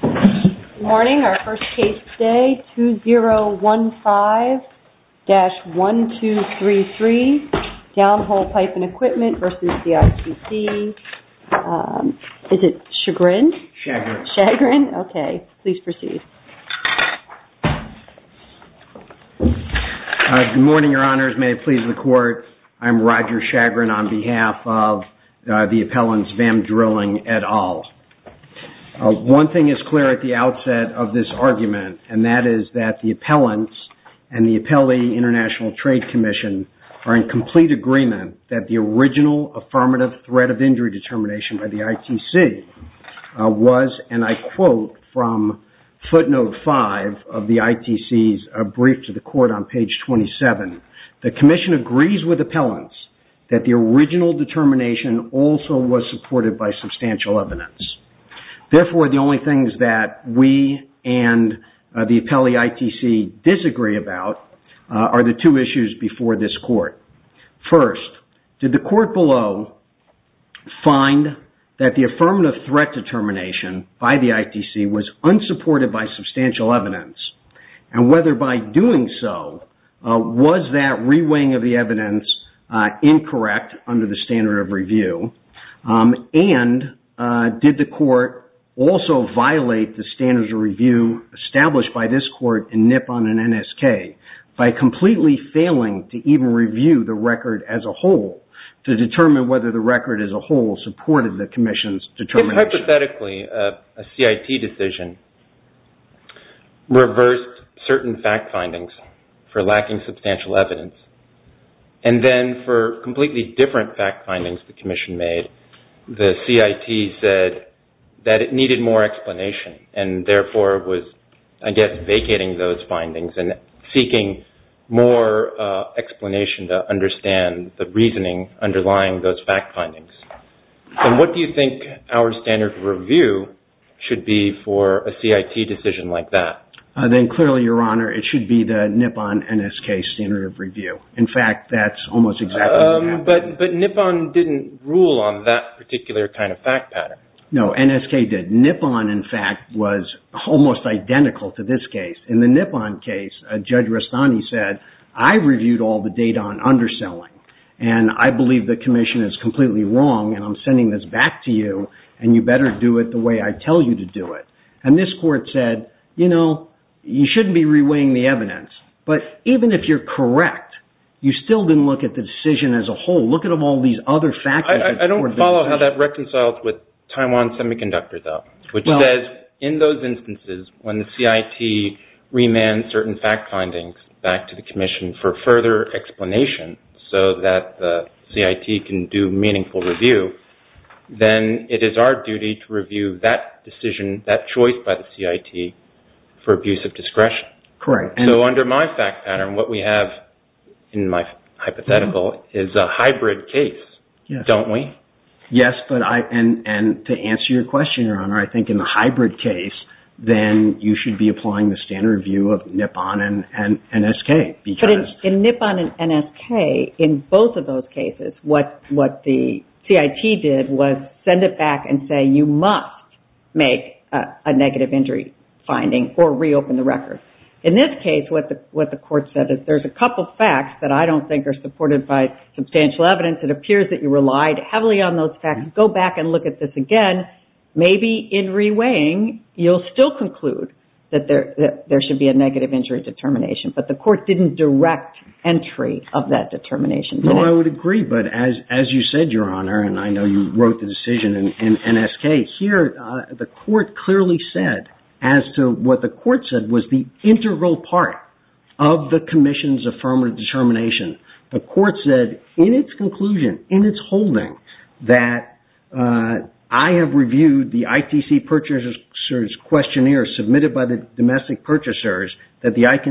Good morning. Our first case today, 2015-1233, Downhole Pipe & Equipment v. ITC. Is it Chagrin? Chagrin. Okay. Please proceed. Good morning, Your Honors. May it please the Court, I'm Roger Chagrin on behalf of the appellants, Vam Drilling et al. One thing is clear at the outset of this argument, and that is that the appellants and the Appellee International Trade Commission are in complete agreement that the original affirmative threat of injury determination by the ITC was, and I quote from footnote 5 of the ITC's brief to the Court on page 27, the Commission agrees with appellants that the original determination also was supported by substantial evidence. Therefore, the only things that we and the Appellee ITC disagree about are the two issues before this Court. First, did the Court below find that the affirmative threat determination by the ITC was unsupported by substantial evidence, and whether by doing so, was that re-weighing of the evidence incorrect under the standard of review, and did the Court also violate the standards of review established by this Court in Nippon and NSK by completely failing to even review the record as a whole to determine whether the record as a whole supported the Commission's determination? Now, hypothetically, a CIT decision reversed certain fact findings for lacking substantial evidence, and then for completely different fact findings the Commission made, the CIT said that it needed more explanation, and therefore was, I guess, vacating those findings and seeking more explanation to understand the reasoning underlying those fact findings. And what do you think our standard of review should be for a CIT decision like that? Clearly, Your Honor, it should be the Nippon-NSK standard of review. In fact, that's almost exactly what happened. But Nippon didn't rule on that particular kind of fact pattern. No, NSK did. Nippon, in fact, was almost identical to this case. In the Nippon case, Judge Rastani said, I reviewed all the data on underselling, and I believe the Commission is completely wrong, and I'm sending this back to you, and you better do it the way I tell you to do it. And this Court said, you know, you shouldn't be reweighing the evidence. But even if you're correct, you still didn't look at the decision as a whole. Look at all these other factors. I don't follow how that reconciles with Taiwan Semiconductor, though. In those instances, when the CIT remands certain fact findings back to the Commission for further explanation so that the CIT can do meaningful review, then it is our duty to review that decision, that choice by the CIT for abuse of discretion. Correct. So under my fact pattern, what we have in my hypothetical is a hybrid case, don't we? Yes, and to answer your question, Your Honor, I think in the hybrid case, then you should be applying the standard view of Nippon and NSK. But in Nippon and NSK, in both of those cases, what the CIT did was send it back and say, you must make a negative injury finding or reopen the record. In this case, what the Court said is, there's a couple facts that I don't think are supported by substantial evidence. It appears that you relied heavily on those facts. Go back and look at this again. Maybe in reweighing, you'll still conclude that there should be a negative injury determination. But the Court didn't direct entry of that determination. No, I would agree. But as you said, Your Honor, and I know you wrote the decision in NSK, here the Court clearly said as to what the Court said was the integral part of the Commission's affirmative determination. The Court said in its conclusion, in its holding, that I have reviewed the ITC purchaser's questionnaire submitted by the domestic purchasers that the ITC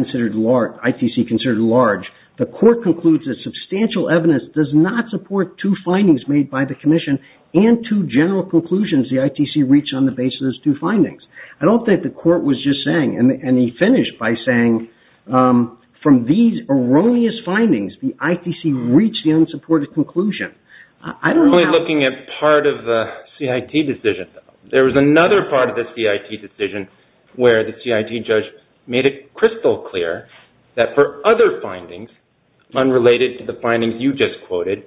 considered large. The Court concludes that substantial evidence does not support two findings made by the Commission and two general conclusions the ITC reached on the basis of those two findings. I don't think the Court was just saying, and he finished by saying, from these erroneous findings, the ITC reached the unsupported conclusion. I don't know how... We're only looking at part of the CIT decision. There was another part of the CIT decision where the CIT judge made it crystal clear that for other findings unrelated to the findings you just quoted,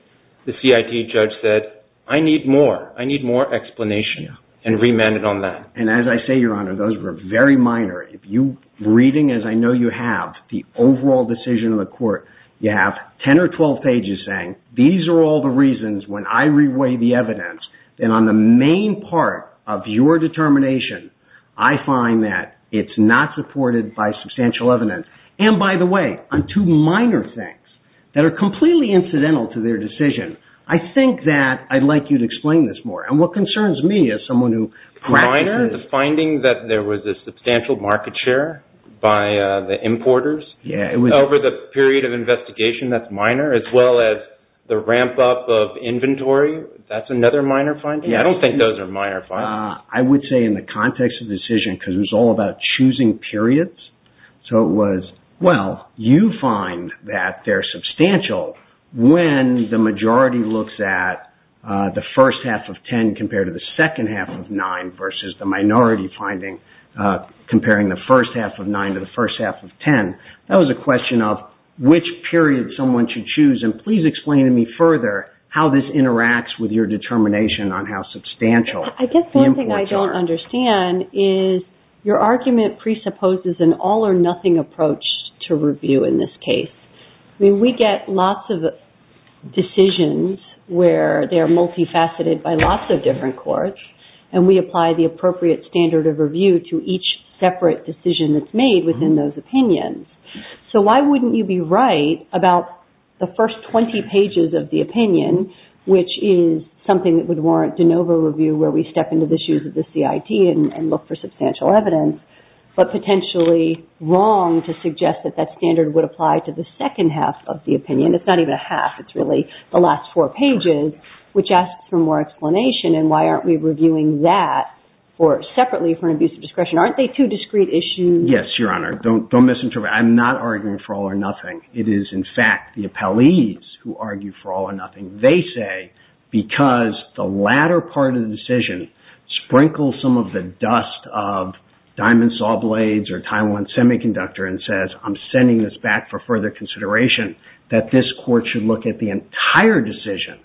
the CIT judge said, I need more. I need more explanation and remanded on that. And as I say, Your Honor, those were very minor. If you're reading, as I know you have, the overall decision of the Court, you have 10 or 12 pages saying, these are all the reasons when I reweigh the evidence that on the main part of your determination, I find that it's not supported by substantial evidence. And by the way, on two minor things that are completely incidental to their decision, I think that I'd like you to explain this more. And what concerns me as someone who practices... The finding that there was a substantial market share by the importers over the period of investigation, that's minor, as well as the ramp up of inventory, that's another minor finding? Yeah, I don't think those are minor findings. I would say in the context of the decision, because it was all about choosing periods, so it was, well, you find that they're substantial when the majority looks at the first half of 10 compared to the second half of 9 versus the minority finding, comparing the first half of 9 to the first half of 10. That was a question of which period someone should choose, and please explain to me further how this interacts with your determination on how substantial... I guess one thing I don't understand is your argument presupposes an all-or-nothing approach to review in this case. I mean, we get lots of decisions where they're multifaceted by lots of different courts, and we apply the appropriate standard of review to each separate decision that's made within those opinions. So why wouldn't you be right about the first 20 pages of the opinion, which is something that would warrant de novo review where we step into the shoes of the CIT and look for substantial evidence, but potentially wrong to suggest that that standard would apply to the second half of the opinion? It's not even a half. It's really the last four pages, which asks for more explanation, and why aren't we reviewing that separately for an abuse of discretion? Aren't they two discrete issues? Yes, Your Honor. Don't misinterpret. I'm not arguing for all-or-nothing. It is, in fact, the appellees who argue for all-or-nothing. They say because the latter part of the decision sprinkles some of the dust of Diamond Saw Blades or Taiwan Semiconductor and says, I'm sending this back for further consideration, that this court should look at the entire decision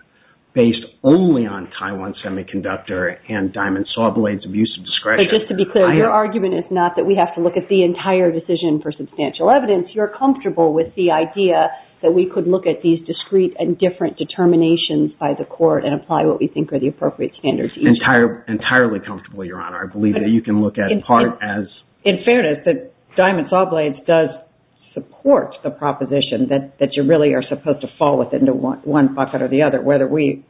based only on Taiwan Semiconductor and Diamond Saw Blades abuse of discretion. But just to be clear, your argument is not that we have to look at the entire decision for substantial evidence. You're comfortable with the idea that we could look at these discrete and different determinations by the court and apply what we think are the appropriate standards each time. Entirely comfortable, Your Honor. I believe that you can look at part as... In fairness, Diamond Saw Blades does support the proposition that you really are supposed to fall within one pocket or the other. Whether we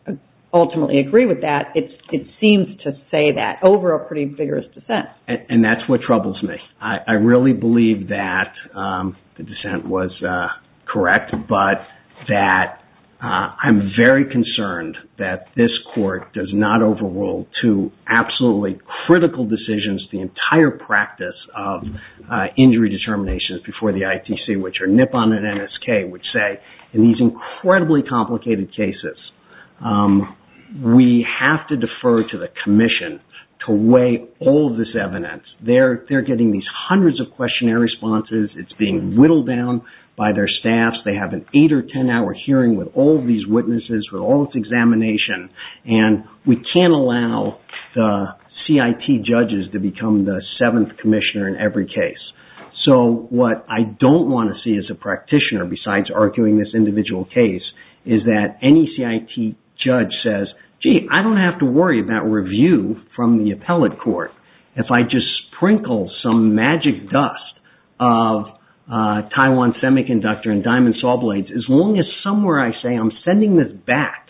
ultimately agree with that, it seems to say that over a pretty vigorous dissent. And that's what troubles me. I really believe that the dissent was correct, but that I'm very concerned that this court does not overrule two absolutely critical decisions, the entire practice of injury determinations before the ITC, which are NIPON and NSK, which say in these incredibly complicated cases, we have to defer to the commission to weigh all this evidence. They're getting these hundreds of questionnaire responses. It's being whittled down by their staffs. They have an eight or ten hour hearing with all these witnesses for all this examination. And we can't allow the CIT judges to become the seventh commissioner in every case. So what I don't want to see as a practitioner, besides arguing this individual case, is that any CIT judge says, gee, I don't have to worry about review from the appellate court. If I just sprinkle some magic dust of Taiwan Semiconductor and Diamond Saw Blades, as long as somewhere I say I'm sending this back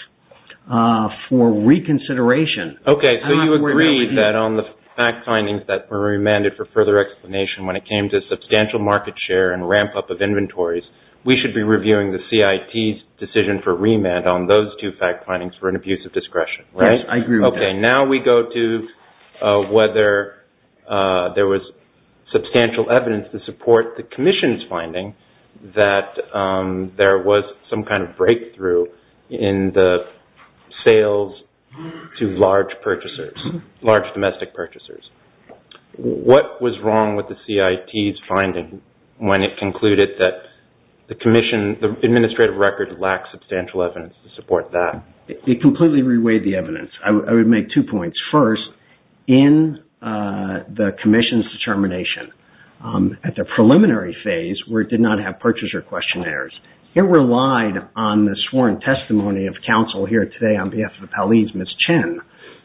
for reconsideration... Okay, so you agree that on the fact findings that were remanded for further explanation when it came to substantial market share and ramp up of inventories, we should be reviewing the CIT's decision for remand on those two fact findings for an abuse of discretion, right? I agree with that. Okay, now we go to whether there was substantial evidence to support the commission's finding that there was some kind of breakthrough in the sales to large purchasers, large domestic purchasers. What was wrong with the CIT's finding when it concluded that the commission, the administrative record lacked substantial evidence to support that? It completely reweighed the evidence. I would make two points. in the commission's determination. At the preliminary phase, where it did not have purchaser questionnaires, it relied on the sworn testimony of counsel here today on behalf of Hallie's Miss Chen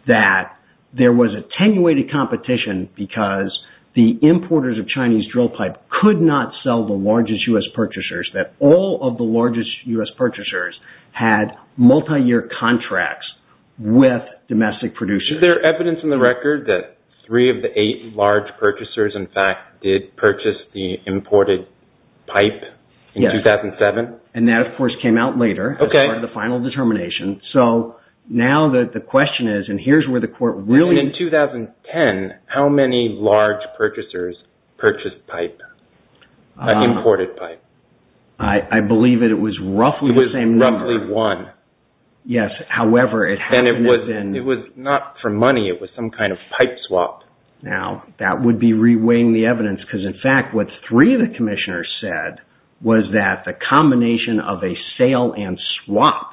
that there was attenuated competition because the importers of Chinese drill pipe could not sell the largest U.S. purchasers, that all of the largest U.S. purchasers had multi-year contracts with domestic producers. Is there evidence in the record that three of the eight large purchasers, in fact, did purchase the imported pipe in 2007? And that, of course, came out later as part of the final determination. So now the question is, and here's where the court really... In 2010, how many large purchasers purchased pipe, imported pipe? I believe it was roughly the same number. It was roughly one. Yes, however, it hadn't been... It was not for money. It was some kind of pipe swap. Now, that would be reweighing the evidence because, in fact, what three of the commissioners said was that the combination of a sale and swap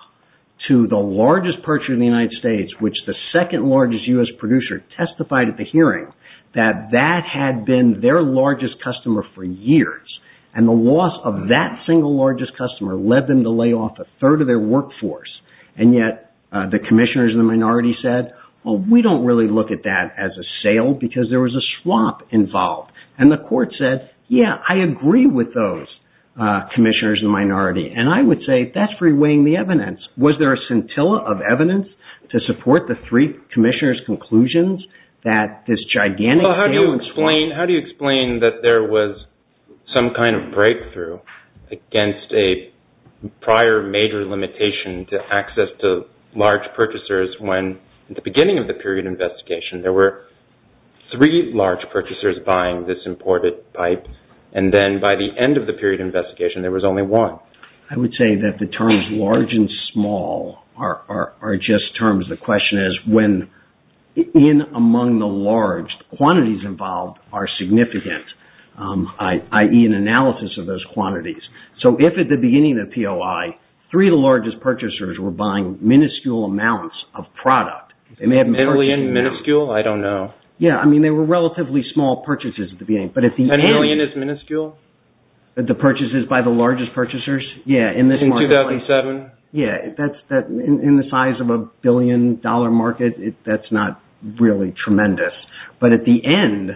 to the largest purchaser in the United States, which the second largest U.S. producer testified at the hearing, that that had been their largest customer for years. And the loss of that single largest customer led them to lay off a third of their workforce. And yet the commissioners in the minority said, well, we don't really look at that as a sale because there was a swap involved. And the court said, yeah, I agree with those commissioners in the minority. And I would say that's reweighing the evidence. Was there a scintilla of evidence to support the three commissioners' conclusions that this gigantic sale... against a prior major limitation to access to large purchasers when, at the beginning of the period of investigation, there were three large purchasers buying this imported pipe, and then by the end of the period of investigation there was only one? I would say that the terms large and small are just terms. The question is when, in among the large, quantities involved are significant, i.e., an analysis of those quantities. So, if at the beginning of the POI, three of the largest purchasers were buying minuscule amounts of product... Minuscule? I don't know. Yeah, I mean, they were relatively small purchases at the beginning. A million is minuscule? The purchases by the largest purchasers? In 2007? Yeah, in the size of a billion-dollar market, that's not really tremendous. But at the end,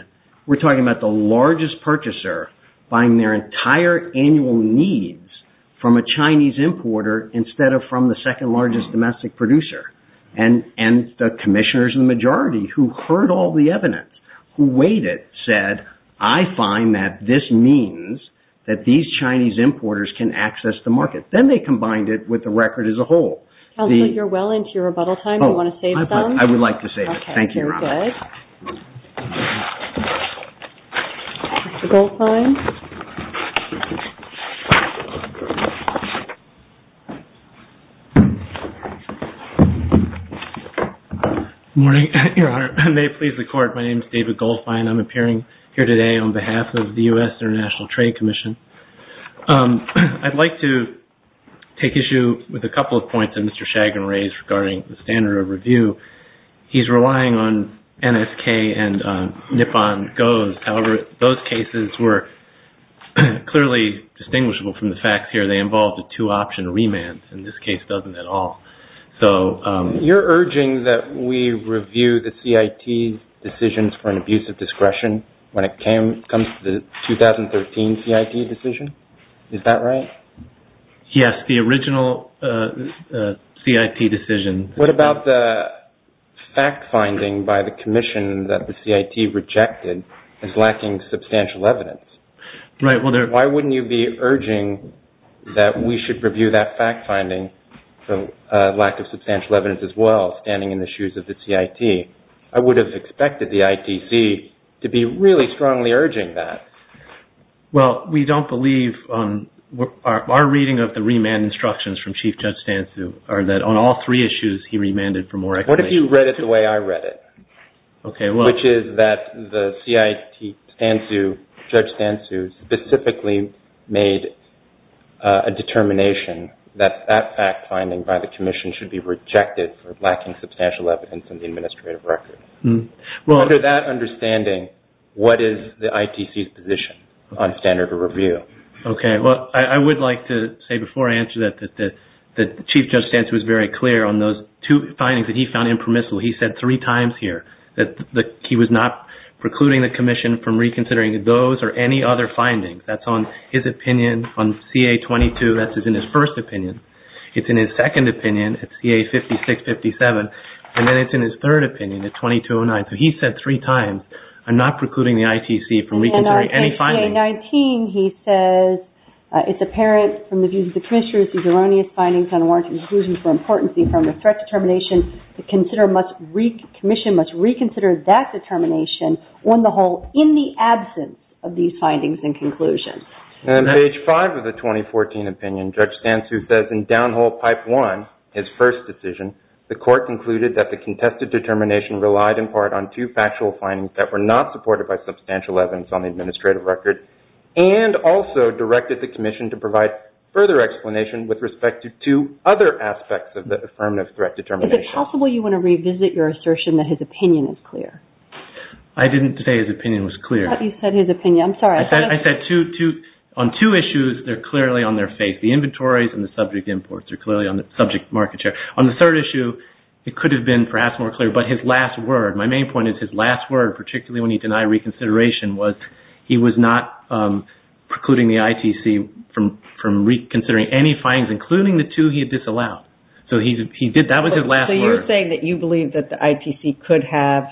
we're talking about the largest purchaser buying their entire annual needs from a Chinese importer instead of from the second-largest domestic producer. And the commissioners in the majority, who heard all the evidence, who weighed it, said, I find that this means that these Chinese importers can access the market. Then they combined it with the record as a whole. Counselor, you're well into your rebuttal time. Do you want to say something? I would like to say this. Thank you, Your Honor. Good morning, Your Honor. May it please the Court, my name is David Goldfein. I'm appearing here today on behalf of the U.S. International Trade Commission. I'd like to take issue with a couple of points that Mr. Shagan raised regarding the standard of review. He's relying on NSK and Nippon GOES. However, those cases were clearly distinguishable from the facts here. They involved a two-option remand. And this case doesn't at all. You're urging that we review the CIT decisions for an abuse of discretion when it comes to the 2013 CIT decision? Is that right? Yes, the original CIT decision. What about the fact-finding by the commission that the CIT rejected as lacking substantial evidence? Why wouldn't you be urging that we should review that fact-finding, the lack of substantial evidence as well, standing in the shoes of the CIT? I would have expected the ITC to be really strongly urging that. Well, we don't believe. Our reading of the remand instructions from Chief Judge Stansu are that on all three issues he remanded for more explanation. What if you read it the way I read it? Okay. Which is that the CIT judge Stansu specifically made a determination that that fact-finding by the commission should be rejected for lacking substantial evidence in the administrative records. Under that understanding, what is the ITC's position on standard of review? Okay. Well, I would like to say before I answer that the Chief Judge Stansu was very clear on those two findings that he found impermissible. He said three times here that he was not precluding the commission from reconsidering those or any other findings. That's on his opinion on CA-22. That's in his first opinion. It's in his second opinion at CA-56-57. And then it's in his third opinion at CA-22-09. So he said three times, I'm not precluding the ITC from reconsidering any findings. And on CA-19, he says, it's apparent from the views of the commissioners these erroneous findings on warranted exclusion for importancy from the threat determination the commission must reconsider that determination on the whole in the absence of these findings and conclusions. And on page 5 of the 2014 opinion, Judge Stansu says in downhole pipe 1, his first decision, the court concluded that the contested determination relied in part on two factual findings that were not supported by substantial evidence on the administrative record and also directed the commission to provide further explanation with respect to two other aspects of the affirmative threat determination. Is it possible you want to revisit your assertion that his opinion is clear? I didn't say his opinion was clear. You said his opinion. I'm sorry. I said on two issues, they're clearly on their faith. The inventories and the subject imports are clearly on the subject market share. On the third issue, it could have been perhaps more clear. But his last word, my main point is his last word, particularly when he denied reconsideration, was he was not precluding the ITC from reconsidering any findings, including the two he had disallowed. So that was his last word. So you're saying that you believe that the ITC could have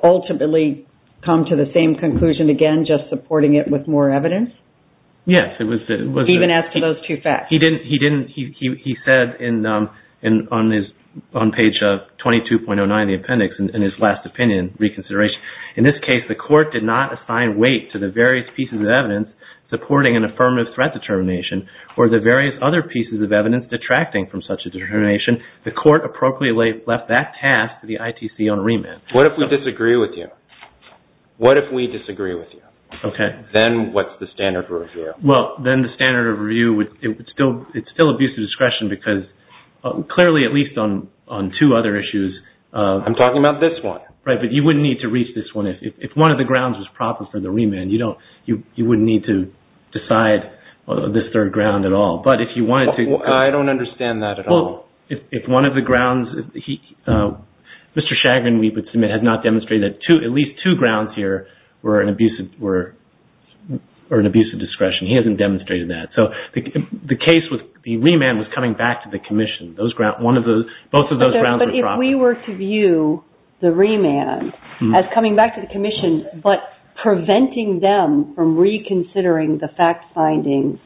ultimately come to the same conclusion again, just supporting it with more evidence? Yes. Even as to those two facts? He said on page 22.09 of the appendix in his last opinion reconsideration, in this case, the court did not assign weight to the various pieces of evidence supporting an affirmative threat determination or the various other pieces of evidence detracting from such a determination. The court appropriately left that task to the ITC on remand. What if we disagree with you? What if we disagree with you? Then what's the standard of review? Well, then the standard of review, it's still abuse of discretion because clearly, at least on two other issues. I'm talking about this one. Right, but you wouldn't need to reach this one. If one of the grounds was proper for the remand, you wouldn't need to decide this third ground at all. But if you wanted to. I don't understand that at all. If one of the grounds, Mr. Shagrin, we would submit, has not demonstrated that at least two grounds here were an abuse of discretion. He hasn't demonstrated that. So the case with the remand was coming back to the commission. Both of those grounds were proper. But if we were to view the remand as coming back to the commission but preventing them from reconsidering the fact findings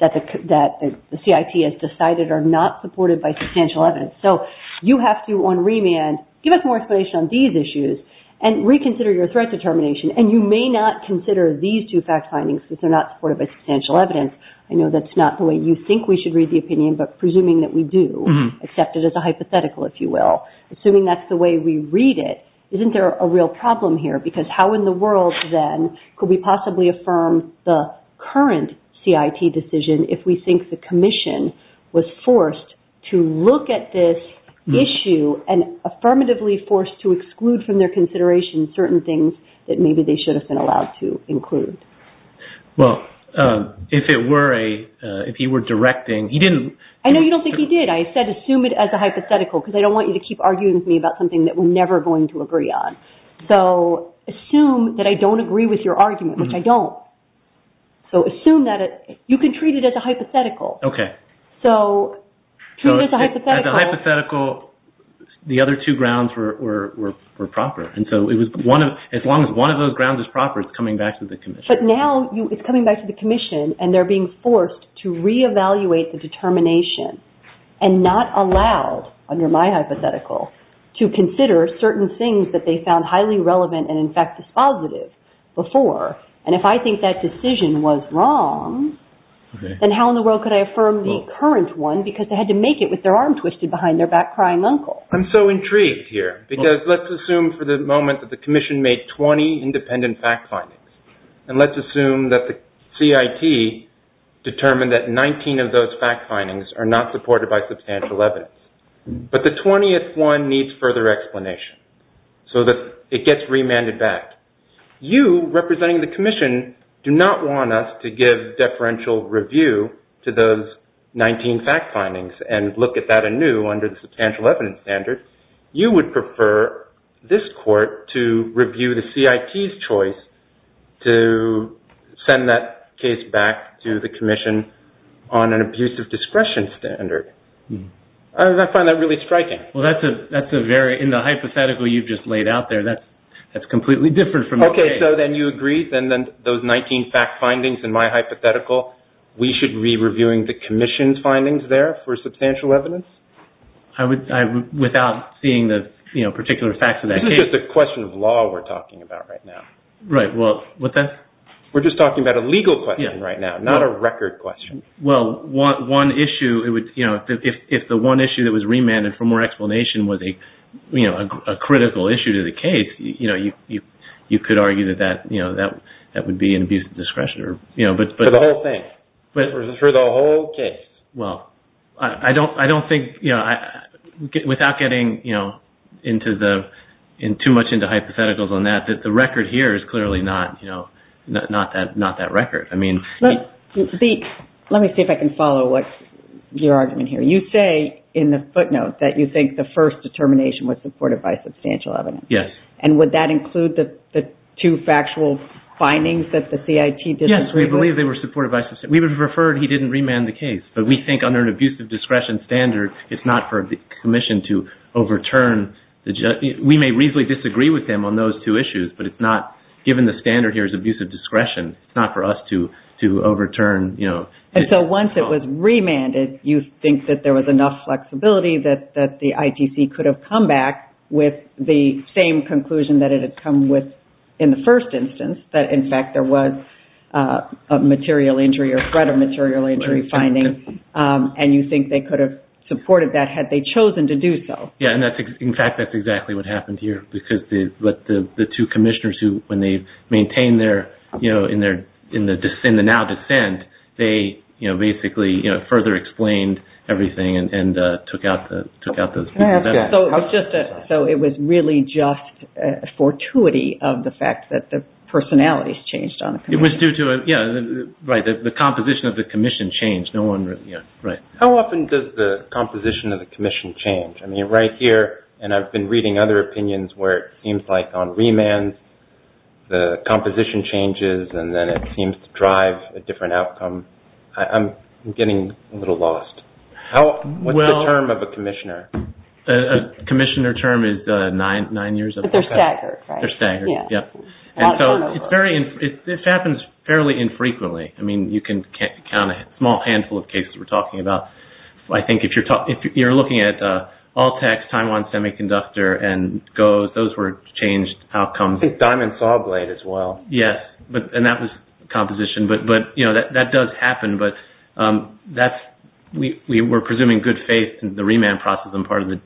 that the CIT has decided are not supported by substantial evidence. So you have to, on remand, give us more explanation on these issues and reconsider your threat determination. And you may not consider these two fact findings because they're not supported by substantial evidence. I know that's not the way you think we should read the opinion, but presuming that we do, accept it as a hypothetical, if you will. Assuming that's the way we read it, isn't there a real problem here? Because how in the world, then, could we possibly affirm the current CIT decision if we think the commission was forced to look at this issue and affirmatively forced to exclude from their consideration certain things that maybe they should have been allowed to include? Well, if it were a, if he were directing, he didn't. I know you don't think he did. I said assume it as a hypothetical because I don't want you to keep arguing with me about something that we're never going to agree on. So assume that I don't agree with your argument, which I don't. So assume that it, you can treat it as a hypothetical. Okay. So treat it as a hypothetical. As a hypothetical, the other two grounds were proper. And so it was one of, as long as one of those grounds is proper, it's coming back to the commission. But now it's coming back to the commission and they're being forced to reevaluate the determination and not allowed, under my hypothetical, to consider certain things that they found highly relevant and, in fact, dispositive before. And if I think that decision was wrong, then how in the world could I affirm the current one because they had to make it with their arm twisted behind their back crying uncle? I'm so intrigued here because let's assume for the moment that the commission made 20 independent fact findings and let's assume that the CIT determined that 19 of those fact findings are not supported by substantial evidence. But the 20th one needs further explanation so that it gets remanded back. You, representing the commission, do not want us to give deferential review to those 19 fact findings and look at that anew under the substantial evidence standard. You would prefer this court to review the CIT's choice to send that case back to the commission on an abuse of discretion standard. I find that really striking. Well, that's a very, in the hypothetical you've just laid out there, that's completely different from the case. Okay, so then you agree, then those 19 fact findings in my hypothetical, we should be reviewing the commission's findings there for substantial evidence? Without seeing the particular facts of that case. This is just a question of law we're talking about right now. Right, well, what's that? We're just talking about a legal question right now, not a record question. Well, one issue, if the one issue that was remanded for more explanation was a critical issue to the case, you could argue that that would be an abuse of discretion. For the whole thing? For the whole case? Well, I don't think, without getting too much into hypotheticals on that, that the record here is clearly not that record. Let me see if I can follow your argument here. You say in the footnote that you think the first determination was supported by substantial evidence. Yes. And would that include the two factual findings that the CIT disagreed with? Yes, we believe they were supported by substantial evidence. We would have preferred he didn't remand the case, but we think under an abuse of discretion standard, it's not for the commission to overturn. We may reasonably disagree with him on those two issues, but it's not given the standard here as abuse of discretion. It's not for us to overturn. And so once it was remanded, you think that there was enough flexibility that the ITC could have come back with the same conclusion that it had come with in the first instance, that in fact there was a material injury or threat of material injury finding, and you think they could have supported that had they chosen to do so. Yes, and in fact that's exactly what happened here, because the two commissioners who, when they maintain their, in the now dissent, they basically further explained everything and took out those pieces of evidence. So it was really just a fortuity of the fact that the personalities changed on the commission. It was due to, yeah, right, the composition of the commission changed. No one really, yeah, right. How often does the composition of the commission change? I mean, right here, and I've been reading other opinions where it seems like on remands the composition changes and then it seems to drive a different outcome. I'm getting a little lost. What's the term of a commissioner? A commissioner term is nine years of service. But they're staggered, right? They're staggered, yeah. And so it's very, this happens fairly infrequently. I mean, you can count a small handful of cases we're talking about. I think if you're looking at Altex, Taiwan Semiconductor, and GOES, those were changed outcomes. I think Diamond Sawblade as well. Yes, and that was composition. But, you know, that does happen. But that's, we were presuming good faith in the remand process. I'm part of the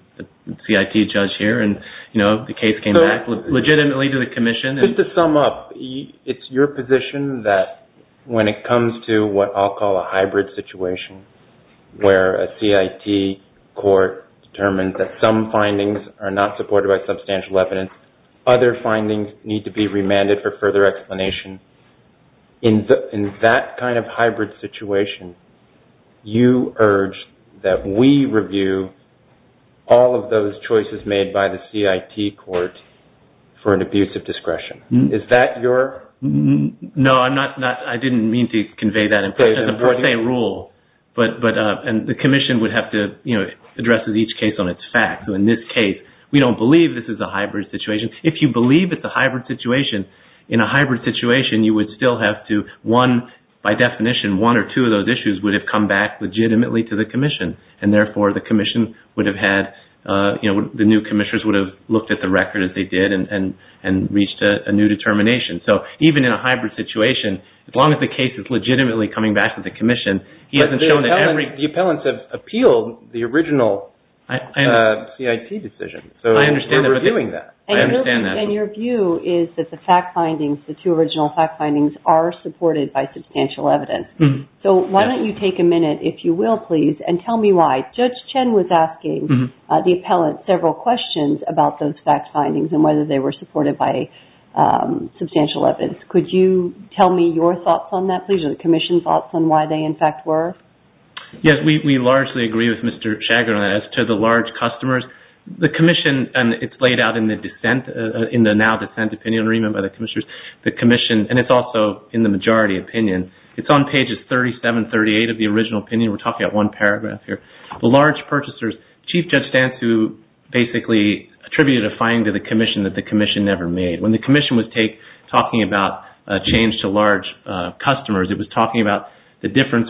CIT judge here. And, you know, the case came back legitimately to the commission. Just to sum up, it's your position that when it comes to what I'll call a hybrid situation where a CIT court determines that some findings are not supported by substantial evidence, other findings need to be remanded for further explanation. In that kind of hybrid situation, you urge that we review all of those choices made by the CIT court for an abuse of discretion. Is that your? No, I'm not, I didn't mean to convey that in the per se rule. But, and the commission would have to, you know, address each case on its facts. So in this case, we don't believe this is a hybrid situation. If you believe it's a hybrid situation, in a hybrid situation, you would still have to, one, by definition, one or two of those issues would have come back legitimately to the commission. And therefore, the commission would have had, you know, the new commissioners would have looked at the record as they did and reached a new determination. So even in a hybrid situation, as long as the case is legitimately coming back to the commission, he hasn't shown that every... But the appellants have appealed the original CIT decision. So we're reviewing that. I understand that. And your view is that the fact findings, the two original fact findings, are supported by substantial evidence. So why don't you take a minute, if you will, please, and tell me why. Judge Chen was asking the appellant several questions about those fact findings and whether they were supported by substantial evidence. Could you tell me your thoughts on that, please, or the commission's thoughts on why they, in fact, were? Yes, we largely agree with Mr. Chagrin as to the large customers. The commission, and it's laid out in the dissent, in the now dissent opinion and remanded by the commissioners, the commission, and it's also in the majority opinion, it's on pages 37, 38 of the original opinion. We're talking about one paragraph here. The large purchasers, Chief Judge Stantz, who basically attributed a finding to the commission that the commission never made. When the commission was talking about a change to large customers,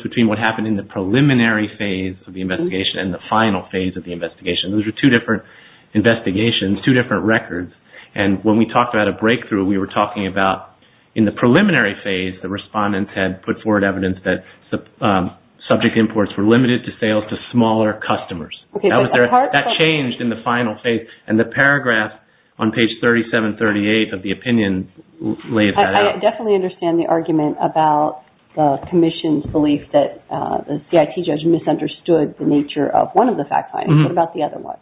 between what happened in the preliminary phase of the investigation and the final phase of the investigation. Those were two different investigations, two different records, and when we talked about a breakthrough, we were talking about in the preliminary phase, the respondents had put forward evidence that subject imports were limited to sales to smaller customers. That changed in the final phase, and the paragraph on page 37, 38 of the opinion laid that out. I definitely understand the argument about the commission's belief that the CIT judge misunderstood the nature of one of the fact findings. What about the other one?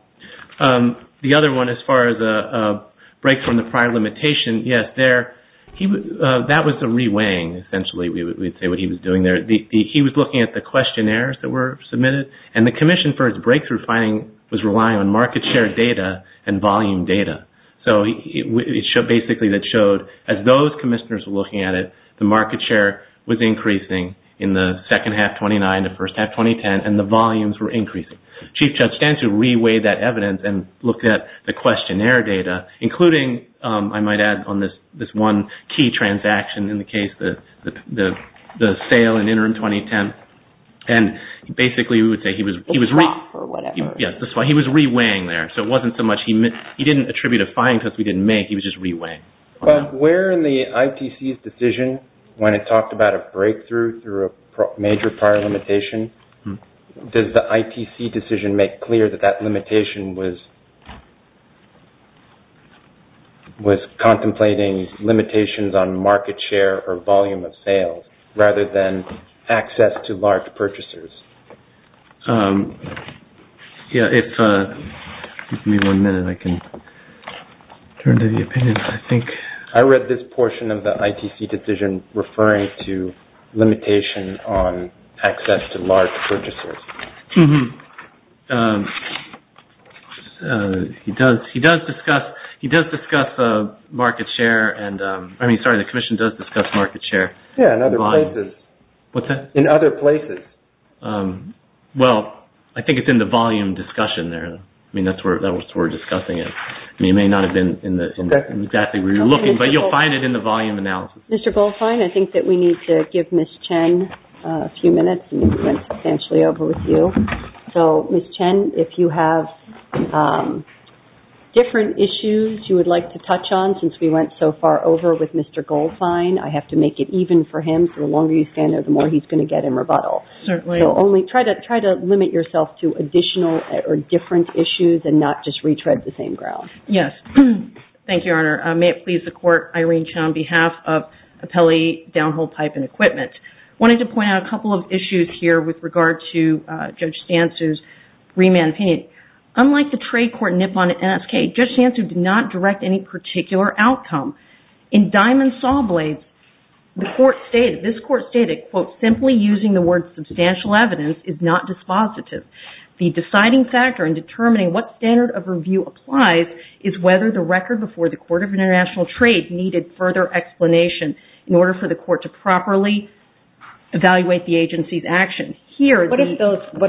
The other one, as far as a break from the prior limitation, yes, that was a re-weighing, essentially, we would say what he was doing there. He was looking at the questionnaires that were submitted, and the commission for its breakthrough finding was relying on market share data and volume data. Basically, that showed as those commissioners were looking at it, the market share was increasing in the second half, 2009, the first half, 2010, and the volumes were increasing. Chief Judge Stanton re-weighed that evidence and looked at the questionnaire data, including, I might add, on this one key transaction in the case, the sale in interim 2010, and basically, we would say he was re- A drop or whatever. Yes, that's why he was re-weighing there, so it wasn't so much, he didn't attribute a fine because we didn't make, he was just re-weighing. Where in the ITC's decision, when it talked about a breakthrough through a major prior limitation, does the ITC decision make clear that that limitation was contemplating limitations on market share or volume of sales rather than access to large purchasers? Yes, if you give me one minute, I can turn to the opinion, I think. I read this portion of the ITC decision referring to limitation on access to large purchasers. He does discuss market share, I mean, sorry, the Commission does discuss market share. Yes, in other places. What's that? In other places. Well, I think it's in the volume discussion there. I mean, that's what we're discussing it. It may not have been in exactly where you're looking, but you'll find it in the volume analysis. Mr. Goldstein, I think that we need to give Ms. Chen a few minutes. I think we went substantially over with you. So, Ms. Chen, if you have different issues you would like to touch on since we went so far over with Mr. Goldstein, I have to make it even for him. The longer you stand there, the more he's going to get in rebuttal. Certainly. So, only try to limit yourself to additional or different issues and not just retread the same ground. Yes. Thank you, Your Honor. May it please the Court, Your Honor, Irene Chen on behalf of Appellee Downhole Pipe and Equipment. I wanted to point out a couple of issues here with regard to Judge Stansu's remand opinion. Unlike the trade court Nippon and NSK, Judge Stansu did not direct any particular outcome. In Diamond Saw Blades, the court stated, this court stated, quote, simply using the word substantial evidence is not dispositive. The deciding factor in determining what standard of review applies is whether the record before the Court of International Trade needed further explanation in order for the court to properly evaluate the agency's actions. What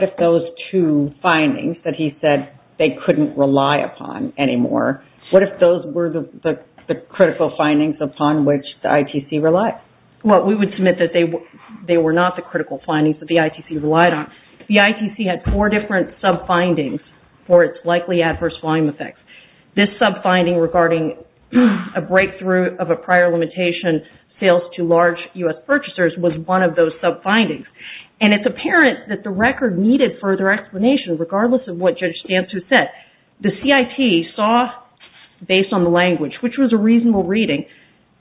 if those two findings that he said they couldn't rely upon anymore, what if those were the critical findings upon which the ITC relied? Well, we would submit that they were not the critical findings that the ITC relied on. The ITC had four different sub-findings for its likely adverse volume effects. This sub-finding regarding a breakthrough of a prior limitation sales to large U.S. purchasers was one of those sub-findings. And it's apparent that the record needed further explanation regardless of what Judge Stansu said. The CIT saw, based on the language, which was a reasonable reading,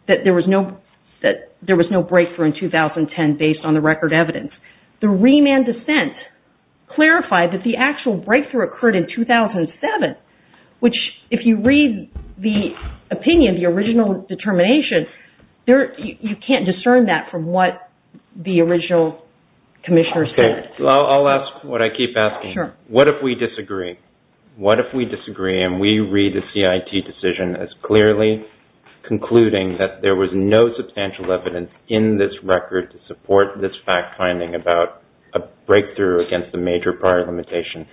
that there was no breakthrough in 2010 based on the record evidence. The remand dissent clarified that the actual breakthrough occurred in 2007, which, if you read the opinion, the original determination, you can't discern that from what the original commissioner said. I'll ask what I keep asking. Sure. What if we disagree? What if we disagree and we read the CIT decision as clearly concluding that there was no substantial evidence in this record to support this fact finding about a breakthrough against a major prior limitation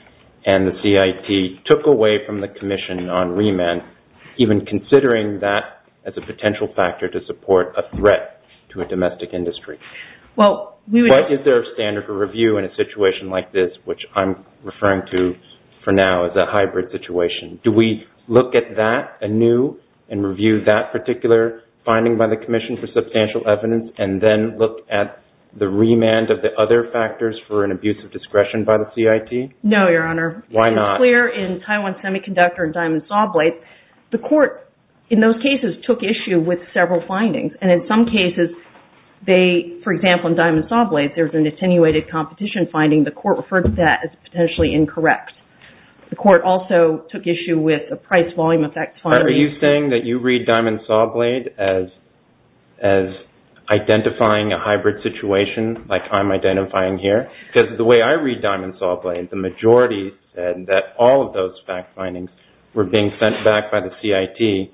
and the CIT took away from the commission on remand, even considering that as a potential factor to support a threat to a domestic industry? What is their standard of review in a situation like this, which I'm referring to for now as a hybrid situation? Do we look at that anew and review that particular finding by the commission for substantial evidence and then look at the remand of the other factors for an abuse of discretion by the CIT? No, Your Honor. Why not? It's clear in Taiwan Semiconductor and Diamond Saw Blade, the court in those cases took issue with several findings and in some cases, they, for example, in Diamond Saw Blade, there's an attenuated competition finding. The court referred to that as potentially incorrect. The court also took issue with a price volume effect finding. Are you saying that you read Diamond Saw Blade as identifying a hybrid situation like I'm identifying here? Because the way I read Diamond Saw Blade, the majority said that all of those fact findings were being sent back by the CIT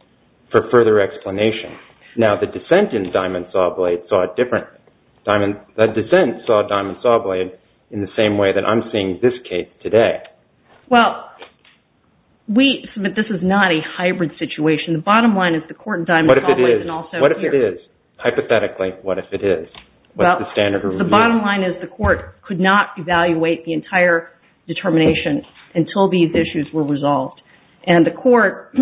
for further explanation. Now, the dissent in Diamond Saw Blade saw it differently. The dissent saw Diamond Saw Blade in the same way that I'm seeing this case today. Well, we submit this is not a hybrid situation. The bottom line is the court in Diamond Saw Blade and also here. What if it is? Hypothetically, what if it is? What's the standard of review? The bottom line is the court could not evaluate the entire determination until these issues were resolved. And the court,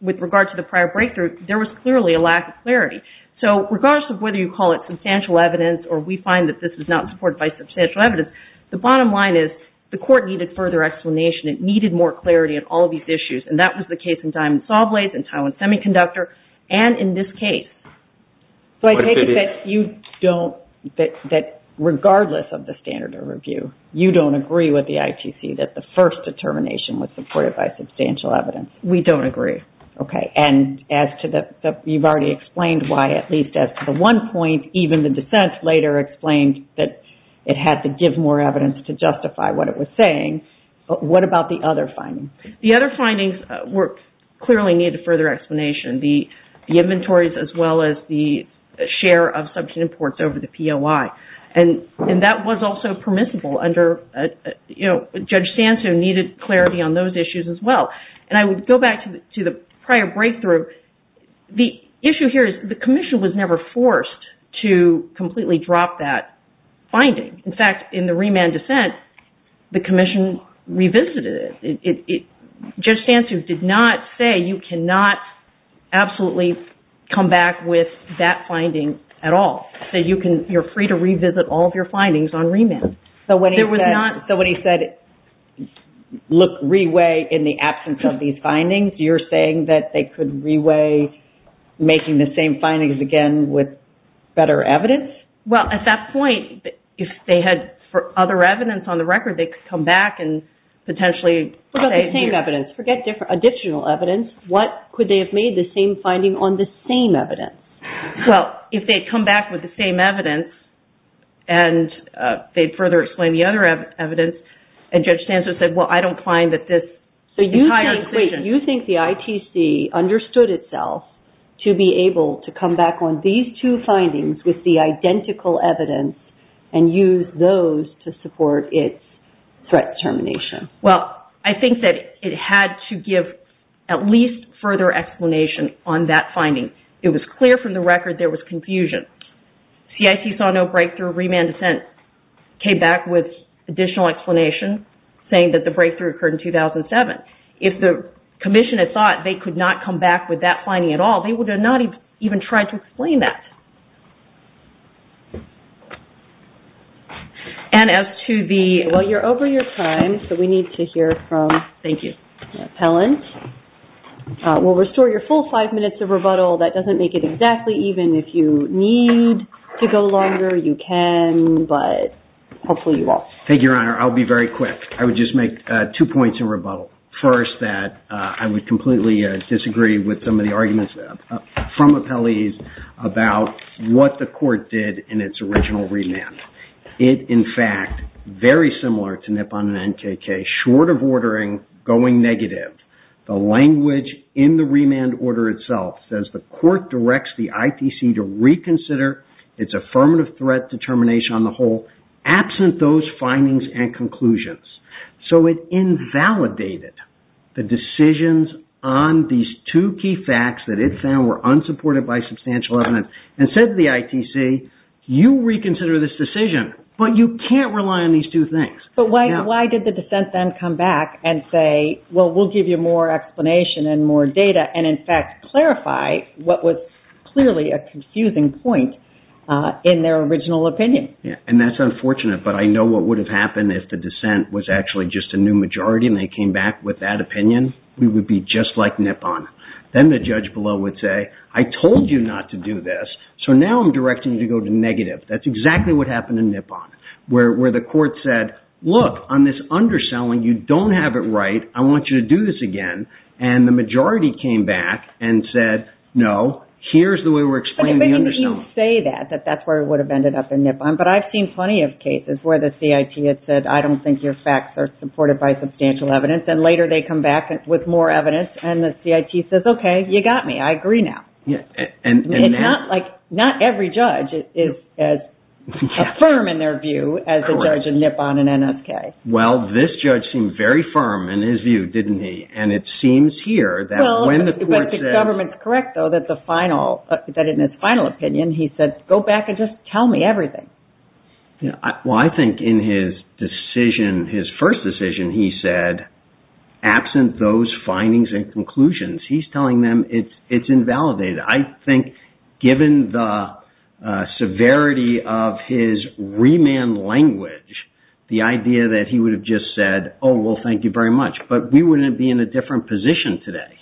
with regard to the prior breakthrough, there was clearly a lack of clarity. So, regardless of whether you call it substantial evidence or we find that this is not supported by substantial evidence, the bottom line is the court needed further explanation. It needed more clarity on all of these issues. And that was the case in Diamond Saw Blade and Taiwan Semiconductor and in this case. So, I take it that you don't... that regardless of the standard of review, you don't agree with the ITC that the first determination was supported by substantial evidence. We don't agree. Okay. And as to the... you've already explained why at least at the one point, even the dissent later explained that it had to give more evidence to justify what it was saying. What about the other findings? The other findings clearly needed further explanation. The inventories as well as the share of substantive reports over the POI. And that was also permissible under... you know, Judge Stancu needed clarity on those issues as well. And I would go back to the prior breakthrough. The issue here is the commission was never forced to completely drop that finding. In fact, in the remand dissent, the commission revisited it. Judge Stancu did not say you cannot absolutely come back with that finding at all. So, you can... you're free to revisit all of your findings on remand. So, when he said... There was not... So, when he said, look, re-weigh in the absence of these findings, you're saying that they could re-weigh making the same findings again with better evidence? Well, at that point, if they had other evidence on the record, they could come back and potentially... What about the same evidence? Forget additional evidence. What? Could they have made the same finding on the same evidence? Well, if they had come back with the same evidence and they further explained the other evidence and Judge Stancu said, well, I don't find that this... So, you think the ITC understood itself to be able to come back on these two findings with the identical evidence and use those to support its threat determination? Well, I think that it had to give at least further explanation on that finding. It was clear from the record there was confusion. CIC saw no breakthrough. Remand Assent came back with additional explanation saying that the breakthrough occurred in 2007. If the Commission had thought they could not come back with that finding at all, they would not have even tried to explain that. And as to the... Well, you're over your time, so we need to hear from... Thank you. ...the appellant. We'll restore your full five minutes of rebuttal. That doesn't make it exactly even. If you need to go longer, you can, but hopefully you won't. Thank you, Your Honor. I'll be very quick. I would just make two points of rebuttal. First, that I would completely disagree with some of the arguments from appellees about what the court did in its original remand. It, in fact, very similar to NIPON and NKK, short of ordering going negative, the language in the remand order itself says the court directs the ITC to reconsider its affirmative threat determination on the whole, absent those findings and conclusions. So it invalidated the decisions on these two key facts that it found were unsupported by substantial evidence and said to the ITC, you reconsider this decision, but you can't rely But why did the defense then come back and say, well, we'll give you more explanation and more data and, in fact, clarify what was clearly a confusing point in their original opinion? And that's unfortunate, but I know what would have happened if the dissent was actually just a new majority and they came back with that opinion, we would be just like NIPON. Then the judge below would say, I told you not to do this, so now I'm directing you to go to negative. That's exactly what happened in NIPON, where the court said, look, on this underselling, you don't have it right, I want you to do this again, and the majority came back and said, no, here's the way we're explaining the underselling. But you didn't even say that, that that's where we would have ended up in NIPON, but I've seen plenty of cases where the CIT has said, I don't think your facts are supported by substantial evidence, and later they come back with more evidence and the CIT says, okay, you got me, I agree now. Not every judge is as firm in their view as the judge in NIPON and NSK. Well, this judge seemed very firm in his view, didn't he? And it seems here that when the court says Well, but the government is correct, though, that the final, that in his final opinion, he said, go back and just tell me everything. Well, I think in his decision, his first decision, he said, absent those findings and conclusions, he's telling them it's invalidated. I think, given the severity of his remand language, the idea that he would have just said, oh, well, thank you very much, but we wouldn't be in a different position today.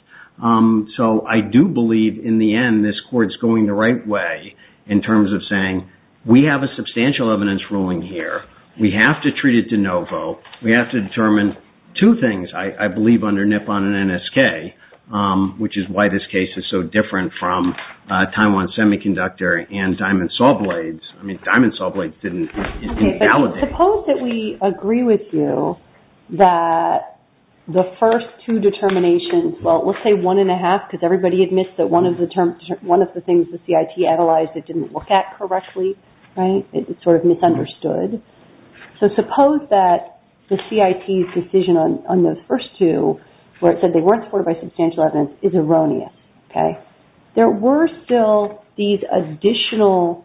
So I do believe, in the end, this court's going the right way in terms of saying, we have a substantial evidence ruling here. We have to treat it to no vote. We have to determine two things, I believe, under NIPON and NSK, which is why this case is so different from Taiwan Semiconductor and Diamond Saw Blades. I mean, Diamond Saw Blades didn't invalidate. Okay, but suppose that we agree with you that the first two determinations, well, we'll say one and a half because everybody admits that one of the things the CIT analyzed it didn't look at correctly, right? It was sort of misunderstood. So suppose that the CIT's decision on those first two, where it said they weren't supported by substantial evidence, is erroneous. Okay? There were still these additional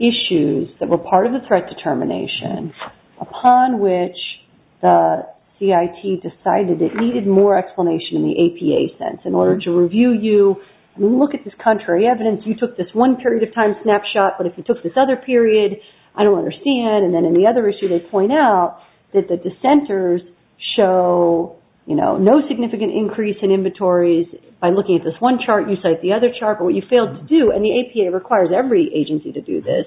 issues that were part of the threat determination, upon which the CIT decided it needed more explanation in the APA sense in order to review you. I mean, look at this contrary evidence. You took this one period of time snapshot, but if you took this other period, I don't understand, and then in the other issue they point out that the dissenters show, you know, no significant increase in inventories by looking at this one chart. You cite the other chart, but what you failed to do, and the APA requires every agency to do this,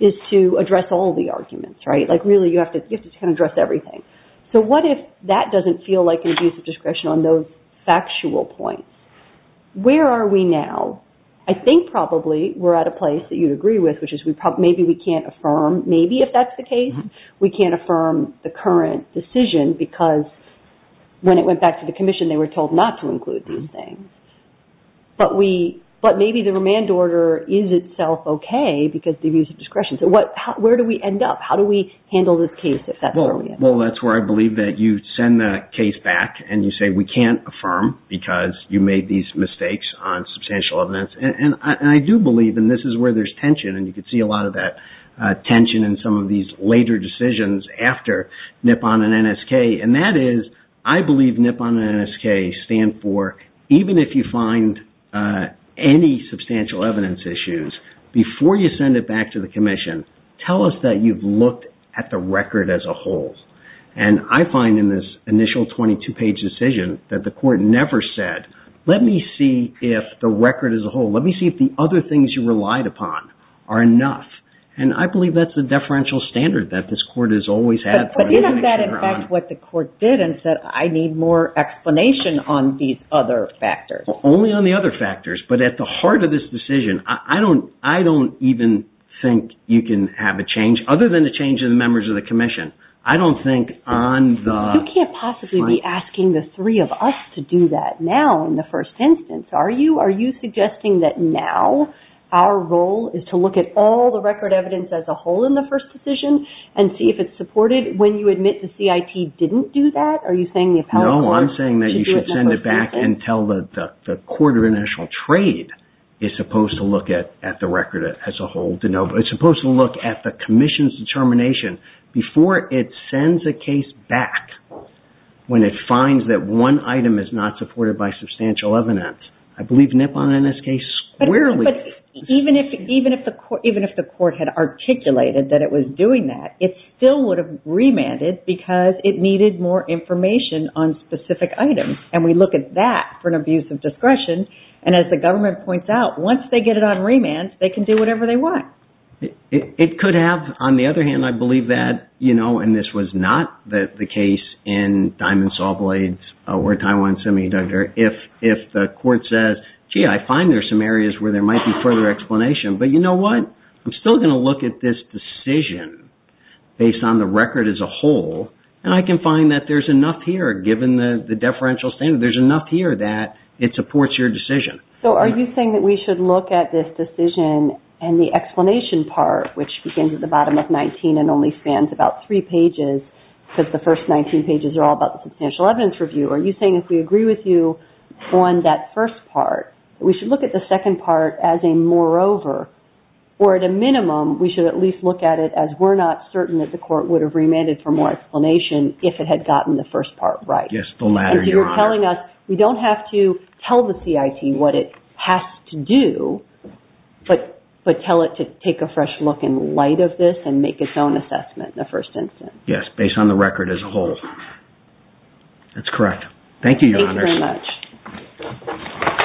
is to address all the arguments, right? Like, really, you have to address everything. So what if that doesn't feel like an abuse of discretion on those factual points? Where are we now? I think probably we're at a place that you'd agree with, which is maybe we can't affirm maybe if that's the case. We can't affirm the current decision because when it went back to the Commission they were told not to include these things. But maybe the remand order is itself okay because the abuse of discretion. So where do we end up? How do we handle this case if that's where we end up? Well, that's where I believe that you send the case back and you say, we can't affirm because you made these mistakes on substantial evidence. And I do believe, and this is where there's tension, and you can see a lot of that tension in some of these later decisions after NIPON and NSK, and that is, I believe NIPON and NSK stand for, even if you find any substantial evidence issues, before you send it back to the Commission, tell us that you've looked at the record as a whole. And I find in this initial 18-22 page decision that the court never said, let me see if the record as a whole, let me see if the other things you relied upon are enough. And I believe that's the deferential standard that this court has always had. But isn't that in fact what the court did and said, I need more explanation on these other factors? Only on the other factors. But at the heart of this decision, I don't even think you can have a change, other than the change in the members of the Commission. I don't think on the... You can't possibly be asking the three of us to do that now in the first instance, are you? Are you suggesting that now our role is to look at all the record evidence as a whole in the first decision and see if it's supported when you admit the CIT didn't do that? Are you saying the appellate court should do it in the first instance? No, I'm saying that you should send it back and tell the Court of International Trade is supposed to look at the record as a whole. It's supposed to look at the Commission's determination before it sends a case back when it finds that one item is not supported by substantial evidence. I believe Nippon NSK squarely... But even if the court had articulated that it was doing that, it still would have remanded because it needed more information on specific items. And we look at that for an abuse of discretion. And as the government points out, once they get it on remand, they can do whatever they want. It could have. On the other hand, I believe that, you know, and this was not the case in Diamond Saw Blades or Taiwan Semiconductor, if the court says, gee, I find there are some areas where there might be further explanation, but you know what? I'm still going to look at this decision based on the record as a whole and I can find that there's enough here given the deferential standard. There's enough here that it supports your decision. So are you saying that we should look at this decision and the explanation part, which begins at the bottom of 19 and only spans about three pages because the first 19 pages are all about the substantial evidence review. Are you saying if we agree with you on that first part, we should look at the second part as a moreover or at a minimum we should at least look at it as we're not certain that the court would have remanded for more explanation if it had gotten the first part right? Yes, the latter, Your Honor. So you're telling us we don't have to tell the CIT what it has to do, but tell it to take a fresh look in light of this and make its own assessment in the first instance. Yes, based on the record as a whole. That's correct. Thank you, Your Honor. Thank you very much.